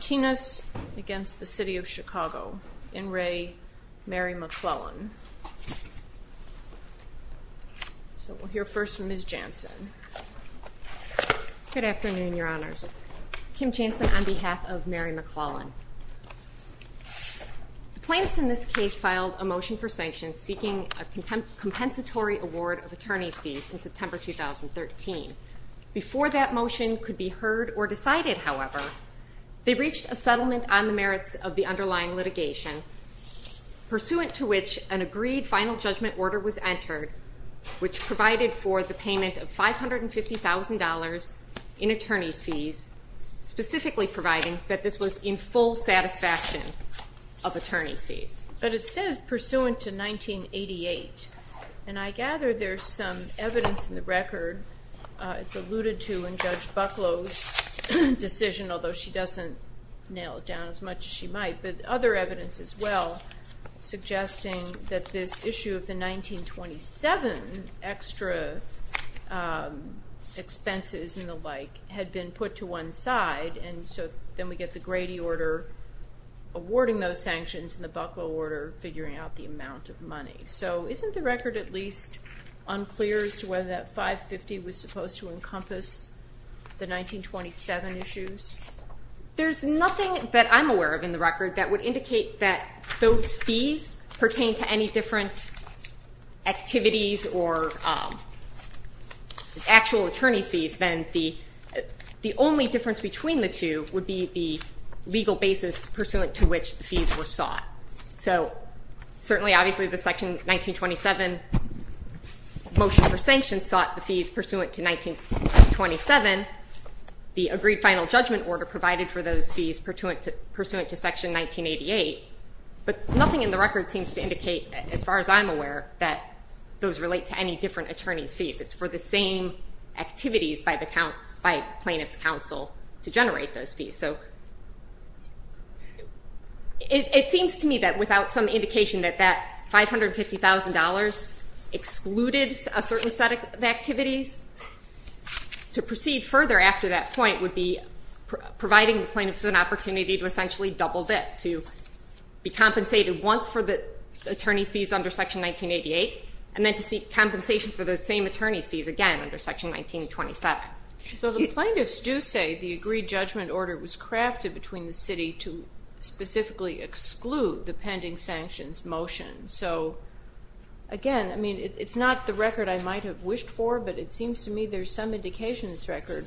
Kim Jansen on behalf of Mary McClellan. The plaintiffs in this case filed a motion for sanctions seeking a compensatory award of attorney's fees in September 2013. Before that motion could be heard or decided, however, they reached a settlement on the merits of the underlying litigation pursuant to which an agreed final judgment order was entered which provided for the payment of $550,000 in attorney's fees, specifically providing that this was in full satisfaction of attorney's fees. But it says pursuant to 1988 and I gather there's some evidence in the record, it's alluded to in Judge Bucklow's decision, although she doesn't nail it down as much as she might, but other evidence as well suggesting that this issue of the 1927 extra expenses and the like had been put to one side and so then we get the Grady order awarding those sanctions and the Bucklow order figuring out the amount of money. So isn't the record at least unclear as to whether that $550,000 was supposed to encompass the 1927 issues? There's nothing that I'm aware of in the record that would indicate that those fees pertain to any different activities or actual attorney's fees than the only difference between the two would be the legal basis pursuant to which the fees were sought. So certainly obviously the section 1927 motion for sanctions sought the fees pursuant to 1927, the agreed final judgment order provided for those fees pursuant to section 1988, but nothing in the record seems to indicate, as far as I'm aware, that those relate to any different attorney's fees. It's for the same activities by the plaintiff's counsel to generate those fees. So it seems to me that without some indication that that $550,000 excluded a certain set of activities, to proceed further after that point would be providing the plaintiffs an opportunity to essentially double dip, to be compensated once for the attorney's fees under section 1988 and then to seek compensation for those same attorney's fees again under section 1927. So the plaintiffs do say the agreed judgment order was crafted between the city to specifically exclude the pending sanctions motion. So again, I mean it's not the record I might have wished for, but it seems to me there's some indication this record,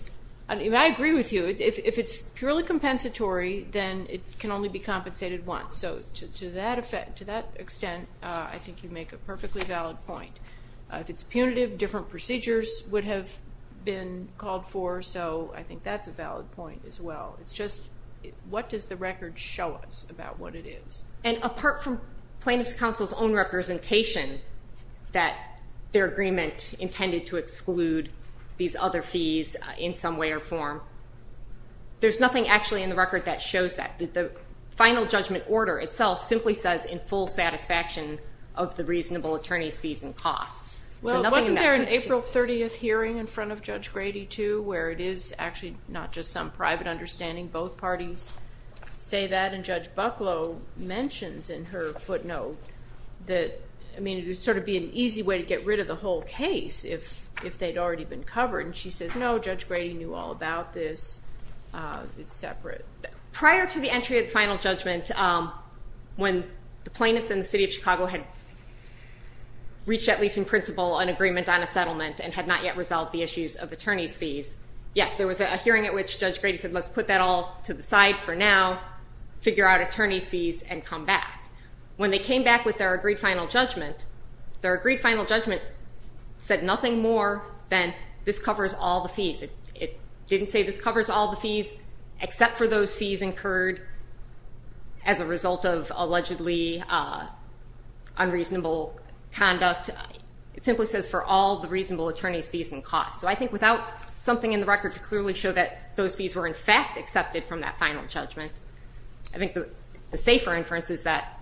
and I agree with you, if it's purely compensatory then it can only be compensated once. So to that effect, to that extent, I think you make a perfectly valid point. If it's punitive, different procedures would have been called for, so I think that's a valid point as well. It's just, what does the record show us about what it is? And apart from plaintiffs' counsel's own representation that their agreement intended to exclude these other fees in some way or form, there's nothing actually in the record that shows that. The final judgment order itself simply says in full satisfaction of the reasonable attorney's fees and costs. Well, wasn't there an April 30th hearing in front of Judge Grady too, where it is actually not just some private understanding, both parties say that, and Judge Bucklow mentions in her footnote that, I mean it would sort of be an easy way to get rid of the whole case if they'd already been covered, and she says no, Judge Grady knew all about this, it's separate. Prior to the entry of the final judgment, when the plaintiffs and the city of Chicago had reached at least in principle an agreement on a settlement and had not yet resolved the issues of attorney's fees, yes, there was a hearing at which Judge Grady said, let's put that all to the side for now, figure out attorney's fees, and come back. When they came back with their agreed final judgment, their agreed final judgment said nothing more than this covers all the fees. It didn't say this covers all the fees, except for those unreasonable conduct, it simply says for all the reasonable attorney's fees and costs. So I think without something in the record to clearly show that those fees were in fact accepted from that final judgment, I think the safer inference is that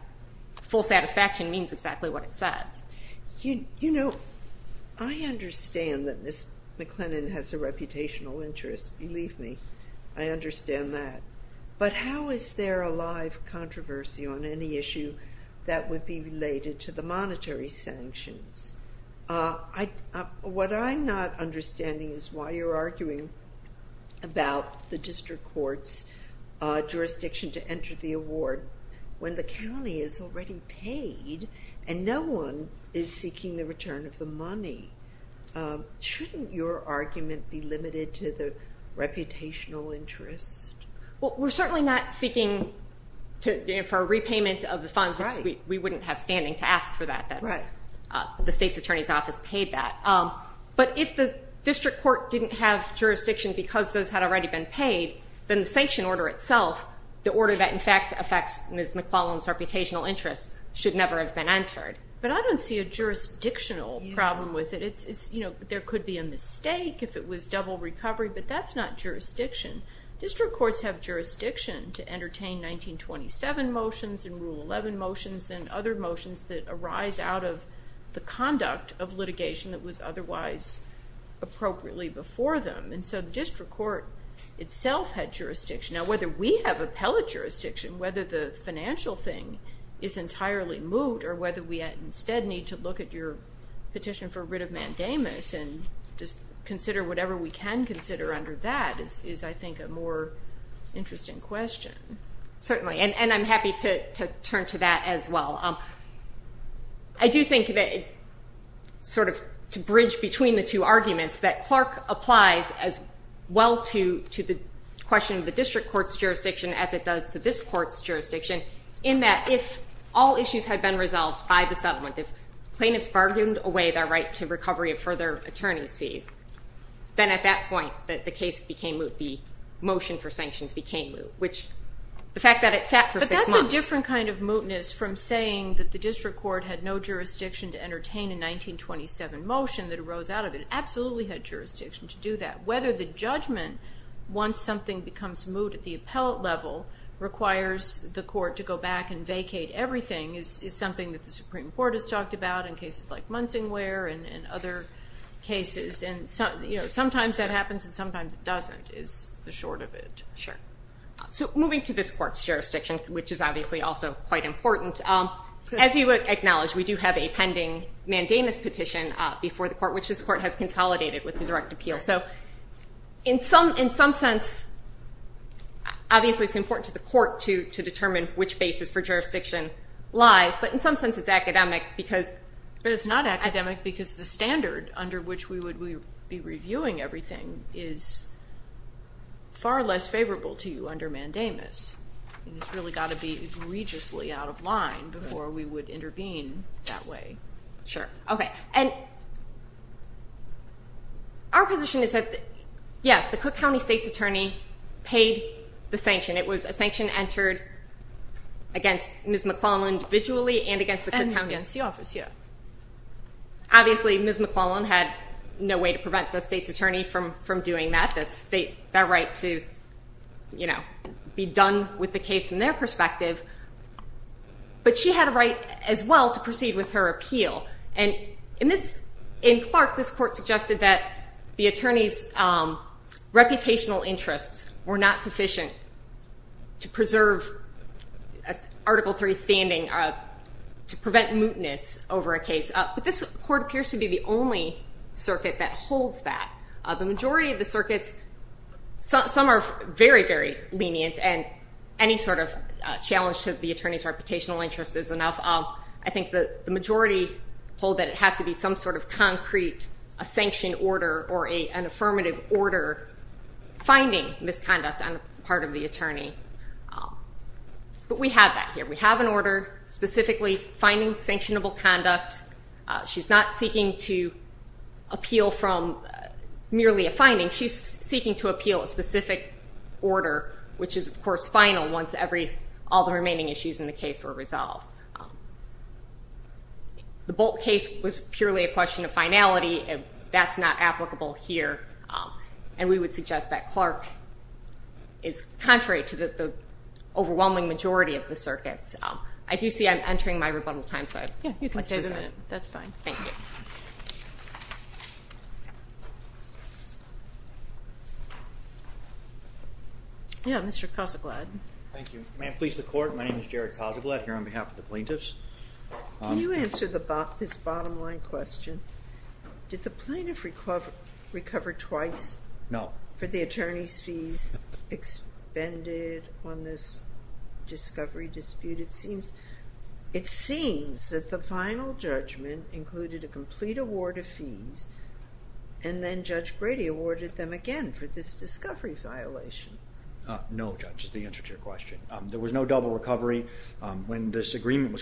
full satisfaction means exactly what it says. You know, I understand that Ms. McLennan has a reputational interest, believe me, I understand that, but how is there a live controversy on any issue that would be related to the monetary sanctions? What I'm not understanding is why you're arguing about the district court's jurisdiction to enter the award when the county is already paid and no one is seeking the return of the money. Shouldn't your argument be limited to the reputational interests? Well, we're certainly not seeking for a repayment of the funds, which we wouldn't have standing to ask for that. The state's attorney's office paid that. But if the district court didn't have jurisdiction because those had already been paid, then the sanction order itself, the order that in fact affects Ms. McLennan's reputational interests, should never have been entered. But I don't see a jurisdictional problem with it. There could be a mistake if it was double recovery, but that's not jurisdiction. District courts have jurisdiction to entertain 1927 motions and Rule 11 motions and other motions that arise out of the conduct of litigation that was otherwise appropriately before them. And so the district court itself had jurisdiction. Now whether we have appellate jurisdiction, whether the financial thing is entirely moot, or whether we instead need to look at your petition for writ of mandamus and just consider whatever we can consider under that is, I think, a more interesting question. Certainly. And I'm happy to turn to that as well. I do think that sort of to bridge between the two arguments that Clark applies as well to the question of the district court's jurisdiction as it does to this court's jurisdiction in that if all issues had been resolved by the then at that point that the case became moot, the motion for sanctions became moot, which the fact that it sat for six months. But that's a different kind of mootness from saying that the district court had no jurisdiction to entertain a 1927 motion that arose out of it. It absolutely had jurisdiction to do that. Whether the judgment, once something becomes moot at the appellate level, requires the court to go back and vacate everything is something that the Supreme Court has talked about in cases like Munsingware and other cases. And sometimes that happens and sometimes it doesn't is the short of it. Sure. So moving to this court's jurisdiction, which is obviously also quite important. As you acknowledge, we do have a pending mandamus petition before the court, which this court has consolidated with the direct appeal. So in some sense, obviously it's important to the court to determine which basis for jurisdiction lies. But in some sense, it's academic because But it's not academic because the standard under which we would be reviewing everything is far less favorable to you under mandamus. It's really got to be egregiously out of line before we would intervene that way. Sure. Okay. And our position is that, yes, the Cook County State's Attorney paid the sanction. It was a sanction entered against Ms. McClellan individually and against the office, yeah. Obviously Ms. McClellan had no way to prevent the state's attorney from doing that. That's their right to be done with the case from their perspective. But she had a right as well to proceed with her appeal. And in Clark, this court suggested that the attorney's reputational interests were not sufficient to preserve Article III standing, to prevent mootness over a case. But this court appears to be the only circuit that holds that. The majority of the circuits, some are very, very lenient and any sort of challenge to the attorney's reputational interest is enough. I think the majority hold that it has to be some sort of concrete, a sanction order or an affirmative order finding misconduct on the part of the attorney. But we have that here. We have an order specifically finding sanctionable conduct. She's not seeking to appeal from merely a finding. She's seeking to appeal a specific order which is, of course, final once all the remaining issues in the case were resolved. The Bolt case was purely a question of finality. That's not applicable here. And we would suggest that Clark is contrary to the overwhelming majority of the circuits. I do see I'm entering my rebuttal time, so I'd like to resign. Yeah, you can stay for the minute. That's fine. Thank you. Yeah, Mr. Cossaglad. Thank you. May it please the Court, my name is Jared Cossaglad, plaintiff's. Can you answer this bottom line question? Did the plaintiff recover twice for the attorney's fees expended on this discovery dispute? It seems that the final judgment included a complete award of fees and then Judge Brady awarded them again for this discovery violation. No, Judge, that's the answer to your question. There was no agreement was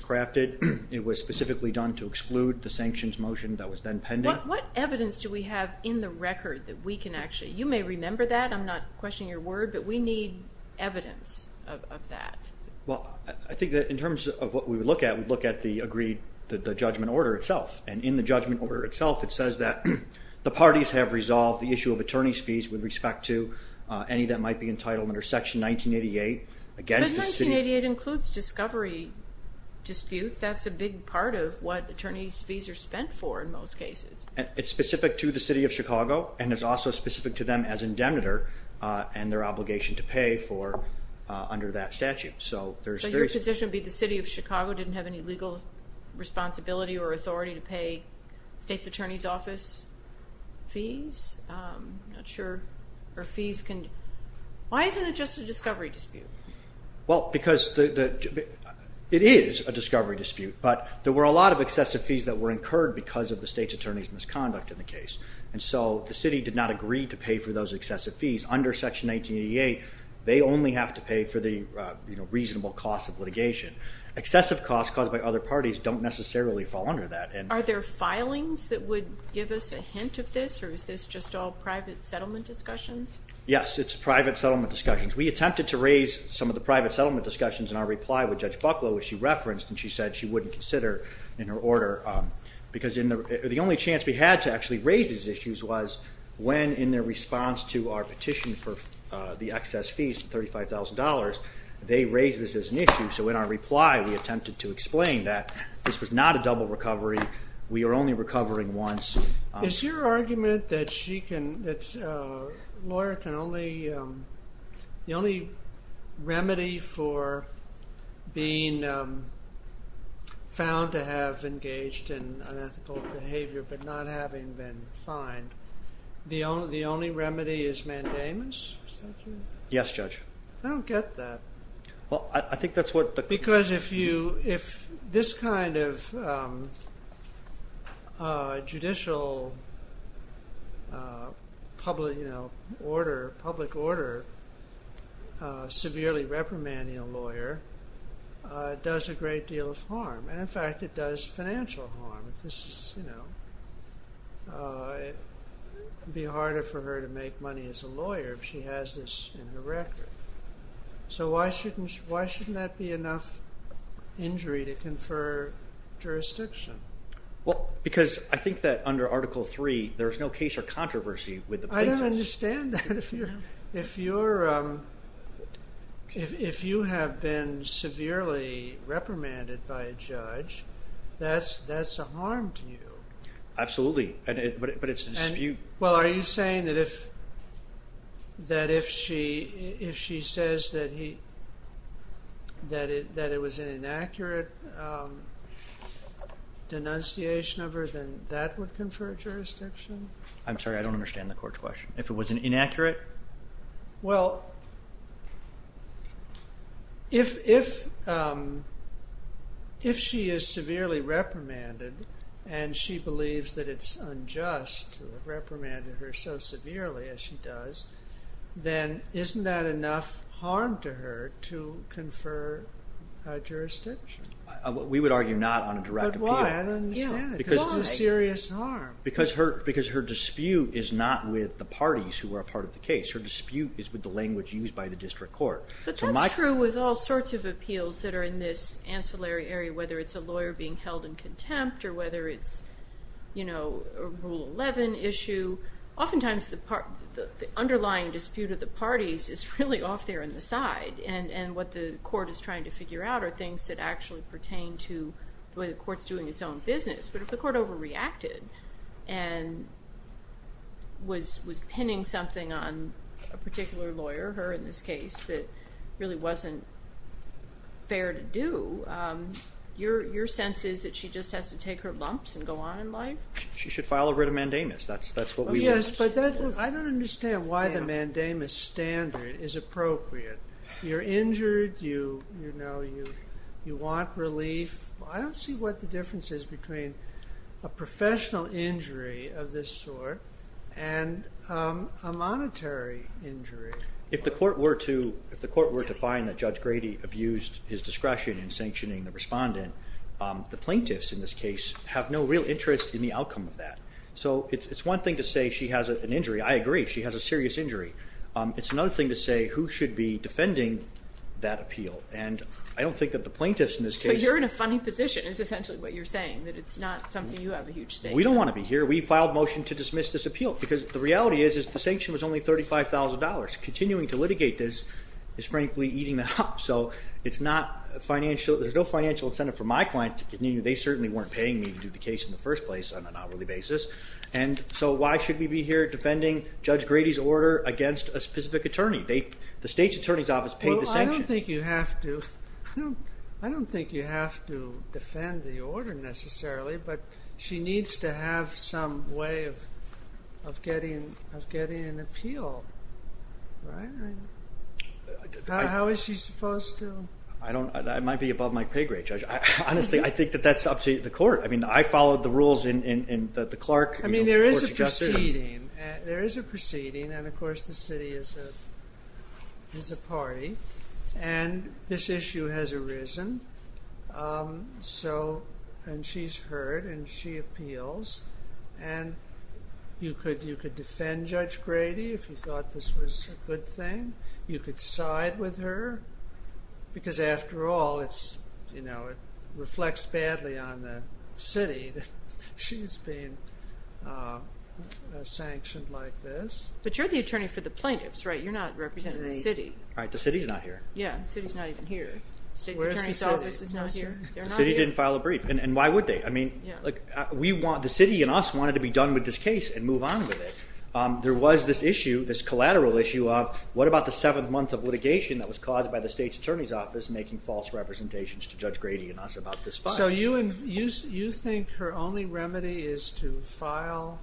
crafted. It was specifically done to exclude the sanctions motion that was then pending. What evidence do we have in the record that we can actually, you may remember that, I'm not questioning your word, but we need evidence of that. Well, I think that in terms of what we would look at, we'd look at the agreed, the judgment order itself. And in the judgment order itself it says that the parties have resolved the issue of attorney's fees with respect to any that might be entitled under Section 1988 against the city. But 1988 includes discovery disputes. That's a big part of what attorney's fees are spent for in most cases. It's specific to the City of Chicago and it's also specific to them as indemnitor and their obligation to pay for, under that statute. So your position would be the City of Chicago didn't have any legal responsibility or authority to pay state's attorney's office fees? I'm not sure. Why isn't it just a discovery dispute? Well, because it is a discovery dispute, but there were a lot of excessive fees that were incurred because of the state's attorney's misconduct in the case. And so the city did not agree to pay for those excessive fees under Section 1988. They only have to pay for the reasonable cost of litigation. Excessive costs caused by other parties don't necessarily fall under that. Are there filings that would give us a hint of this or is this just all private settlement discussions? Yes, it's private settlement discussions. We attempted to raise some of the private settlement discussions in our reply with Judge Bucklow, which she referenced, and she said she wouldn't consider in her order. Because the only chance we had to actually raise these issues was when in their response to our petition for the excess fees of $35,000, they raised this as an issue. So in our reply we attempted to explain that this was not a double recovery. We are only recovering once. Is your argument that a lawyer can only, the only remedy for being found to have engaged in unethical behavior but not having been fined, the only remedy is mandamus? Yes, Judge. I don't get that. Well, I think that's what the... Because if you, if this kind of judicial public, you know, order, public order severely reprimanding a lawyer does a great deal of harm. And in fact it does financial harm. This is, you know, it would be harder for her to make money as a lawyer if she has this in her record. So why shouldn't that be enough injury to confer jurisdiction? Well, because I think that under Article III there's no case or statute that if you're, if you're, if you have been severely reprimanded by a judge that's a harm to you. Absolutely, but it's a dispute. Well, are you saying that if she says that he, that it was an inaccurate denunciation of her then that would confer jurisdiction? I'm sorry, I don't understand the court's question. If it was inaccurate? Well, if, if she is severely reprimanded and she believes that it's unjust to reprimand her so severely as she does, then isn't that enough harm to her to confer jurisdiction? We would argue not on a direct appeal. But why? I don't understand. Because it's a serious harm. Because her dispute is not with the parties who are part of the case. Her dispute is with the language used by the district court. But that's true with all sorts of appeals that are in this ancillary area whether it's a lawyer being held in contempt or whether it's, you know, a Rule 11 issue. Oftentimes the underlying dispute of the parties is really off there on the side and what the court's doing is its own business. But if the court overreacted and was pinning something on a particular lawyer, her in this case, that really wasn't fair to do, your sense is that she just has to take her lumps and go on in life? She should file a writ of mandamus. That's what we want. Yes, but I don't understand why the mandamus standard is appropriate. You're injured, you want relief. I don't see what the difference is between a professional injury of this sort and a monetary injury. If the court were to find that Judge Grady abused his discretion in sanctioning the respondent, the plaintiffs in this case have no real interest in the outcome of that. So it's one thing to say she has an injury. I agree, she has a serious injury. It's another thing to say who should be defending that appeal. And I don't think that the plaintiffs in this case... So you're in a funny position is essentially what you're saying, that it's not something you have a huge stake in. We don't want to be here. We filed motion to dismiss this appeal because the reality is the sanction was only $35,000. Continuing to litigate this is frankly eating them up. So it's not financial, there's no financial incentive for my client to continue. They certainly weren't paying me to do the case in the first place on an hourly basis. And so why should we be here defending Judge Grady's order against a specific attorney? The state's attorney's office paid the sanction. I don't think you have to defend the order necessarily, but she needs to have some way of getting an appeal. How is she supposed to? I might be above my pay grade, Judge. Honestly, I think that that's up to the court. I mean, I followed the rules in the Clark. I mean, there is a proceeding and of course the city is a party and this issue has arisen. So, and she's heard and she appeals and you could defend Judge Grady if you thought this was a good thing. You could side with her because after all it's, you know, it reflects badly on the city. She's been sanctioned like this. But you're the attorney for the plaintiffs, right? You're not representing the city. Right, the city's not here. Yeah, the city's not even here. The state's attorney's office is not here. The city didn't file a brief and why would they? I mean, we want, the city and us wanted to be done with this case and move on with it. There was this issue, this collateral issue of what about the seventh month of litigation that was caused by the state's attorney's office making false representations to Judge Grady and us about this file. So you think her only remedy is to file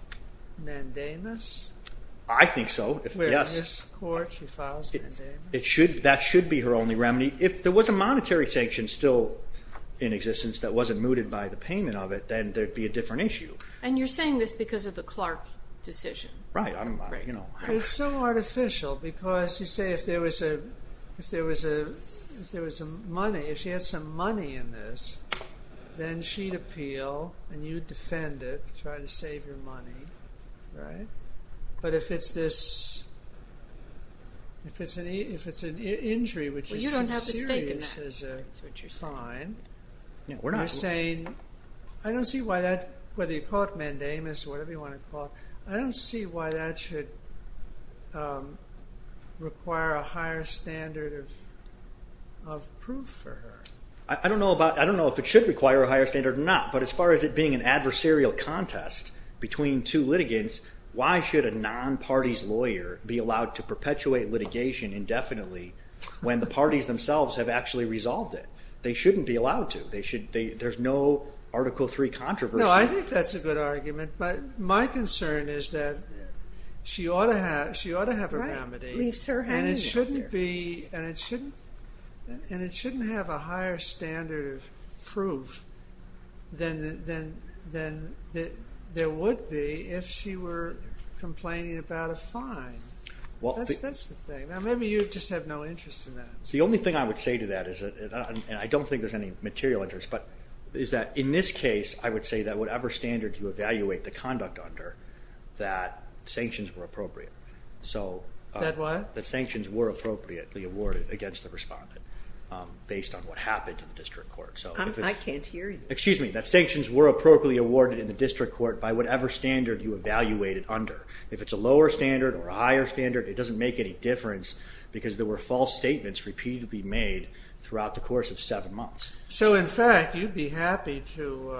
mandamus? I think so, yes. That should be her only remedy. If there was a monetary sanction still in existence that wasn't mooted by the payment of it, then there'd be a different issue. And you're saying this because of the Clark decision. Right, you know. It's so artificial because you say if there was a money, if she then she'd appeal and you'd defend it, try to save your money, right? But if it's this, if it's an injury which is serious as a fine, you're saying, I don't see why that, whether you call it mandamus, whatever you want to call it, I don't see why that should require a higher standard of proof for her. I don't know about, I don't know if it should require a higher standard or not, but as far as it being an adversarial contest between two litigants, why should a non-party's lawyer be allowed to perpetuate litigation indefinitely when the parties themselves have actually resolved it? They shouldn't be allowed to. They should, there's no Article III controversy. No, I think that's a good argument, but my concern is that she ought to have, she ought to have a and it shouldn't have a higher standard of proof than there would be if she were complaining about a fine. That's the thing. Now maybe you just have no interest in that. The only thing I would say to that is, and I don't think there's any material interest, but is that in this case I would say that whatever standard you evaluate the conduct under, that sanctions were appropriate. That what? That sanctions were appropriately awarded against the respondent based on what happened in the district court. I can't hear you. Excuse me, that sanctions were appropriately awarded in the district court by whatever standard you evaluate it under. If it's a lower standard or a higher standard, it doesn't make any difference because there were false statements repeatedly made throughout the course of seven months. So in fact, you'd be happy to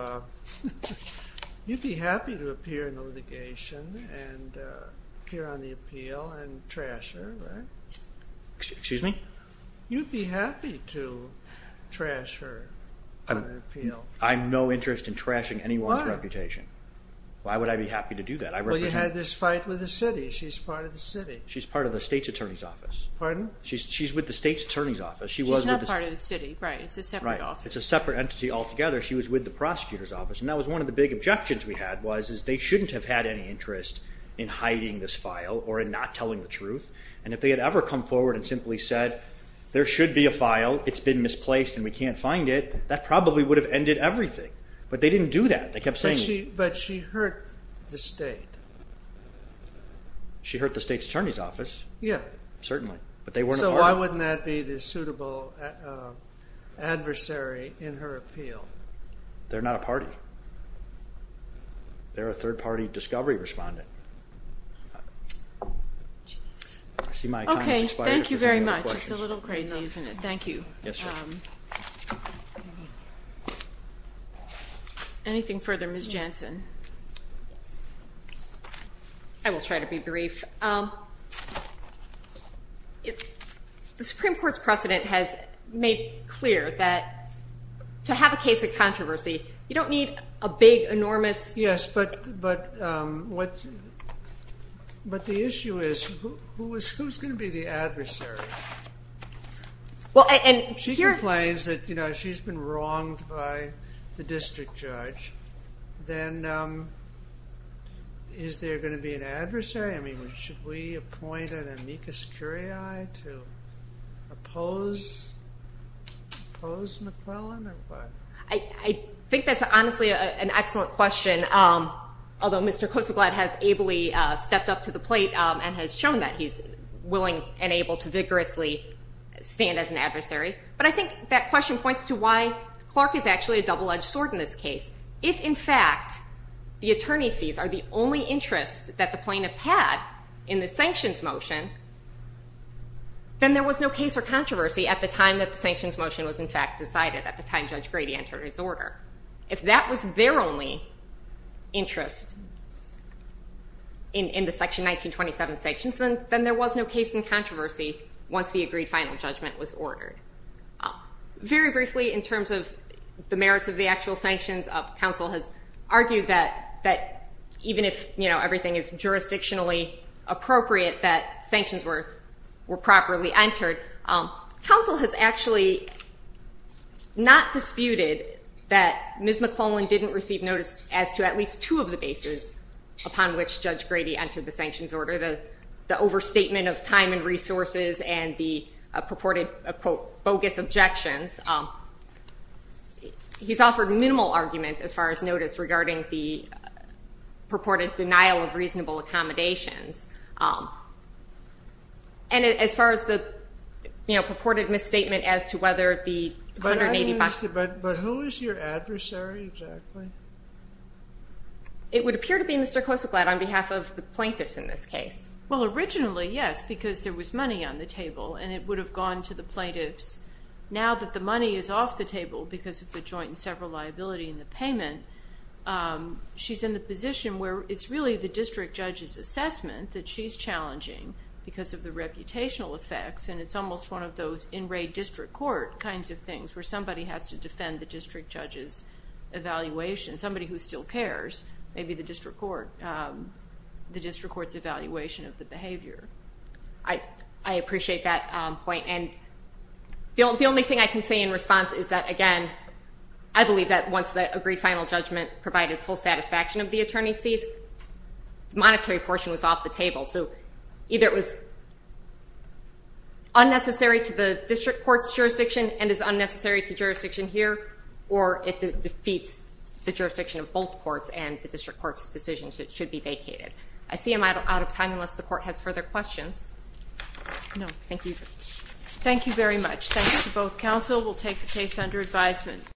appear in the litigation and appear on the appeal and trash her, right? Excuse me? You'd be happy to trash her on an appeal. I'm no interest in trashing anyone's reputation. Why would I be happy to do that? Well, you had this fight with the city. She's part of the city. She's part of the state's attorney's office. Pardon? She's with the state's attorney's office. She's not part of the city, right? It's a separate office. It's a separate entity altogether. She was with the prosecutor's office and that was one of the big objections we had was they shouldn't have had any interest in hiding this file or in not telling the truth. And if they had ever come forward and simply said there should be a file, it's been misplaced and we can't find it, that probably would have ended everything. But they didn't do that. They kept saying it. But she hurt the state. She hurt the state's attorney's office. Yeah. Certainly. So why wouldn't that be the suitable adversary in her appeal? They're not a party. They're a third-party discovery respondent. Okay, thank you very much. It's a little crazy, isn't it? Thank you. Anything further, Ms. Jansen? I will try to be brief. The Supreme Court's precedent has made clear that to have a case of controversy you don't need a big, enormous... Yes, but the issue is who's going to be the adversary? She complains that she's been wronged by the district judge. Then is there going to be an adversary? I mean, should we appoint an amicus curiae to oppose McClellan or what? I think that's honestly an excellent question, although Mr. Koseglad has ably stepped up to the plate and has shown that he's willing and able to vigorously stand as an adversary. But I think that question points to why Clark is actually a double-edged sword in this case. If, in fact, the attorney's fees are the only interest that the plaintiffs had in the sanctions motion, then there was no case or controversy at the time that the sanctions motion was, in fact, at the time Judge Grady entered his order. If that was their only interest in the Section 1927 sanctions, then there was no case in controversy once the agreed final judgment was ordered. Very briefly, in terms of the merits of the actual sanctions, counsel has argued that even if everything is jurisdictionally appropriate, that sanctions were properly entered. Counsel has actually not disputed that Ms. McClellan didn't receive notice as to at least two of the bases upon which Judge Grady entered the sanctions order, the overstatement of time and resources and the purported, quote, bogus objections. He's offered minimal argument as far as notice regarding the purported denial of reasonable accommodations. And as far as the, you know, purported misstatement as to whether the $180— But who is your adversary exactly? It would appear to be Mr. Kosoglad on behalf of the plaintiffs in this case. Well, originally, yes, because there was money on the table and it would have gone to the plaintiffs. Now that the money is off the table because of the joint and several liability in the payment, she's in the position where it's really the district judge's assessment that she's challenging because of the reputational effects. And it's almost one of those in-ray district court kinds of things where somebody has to defend the district judge's evaluation, somebody who still cares, maybe the district court's evaluation of the behavior. I appreciate that point. And the only thing I can say in response is that, again, I believe that once the agreed final judgment provided full satisfaction of the attorney's fees, the monetary portion was off the table. So either it was unnecessary to the district court's jurisdiction and is unnecessary to jurisdiction here, or it defeats the jurisdiction of both courts and the district court's decision should be vacated. I see I'm out of time unless the court has further questions. No, thank you. Thank you very much. Thanks to both counsel. We'll take the case under advisement.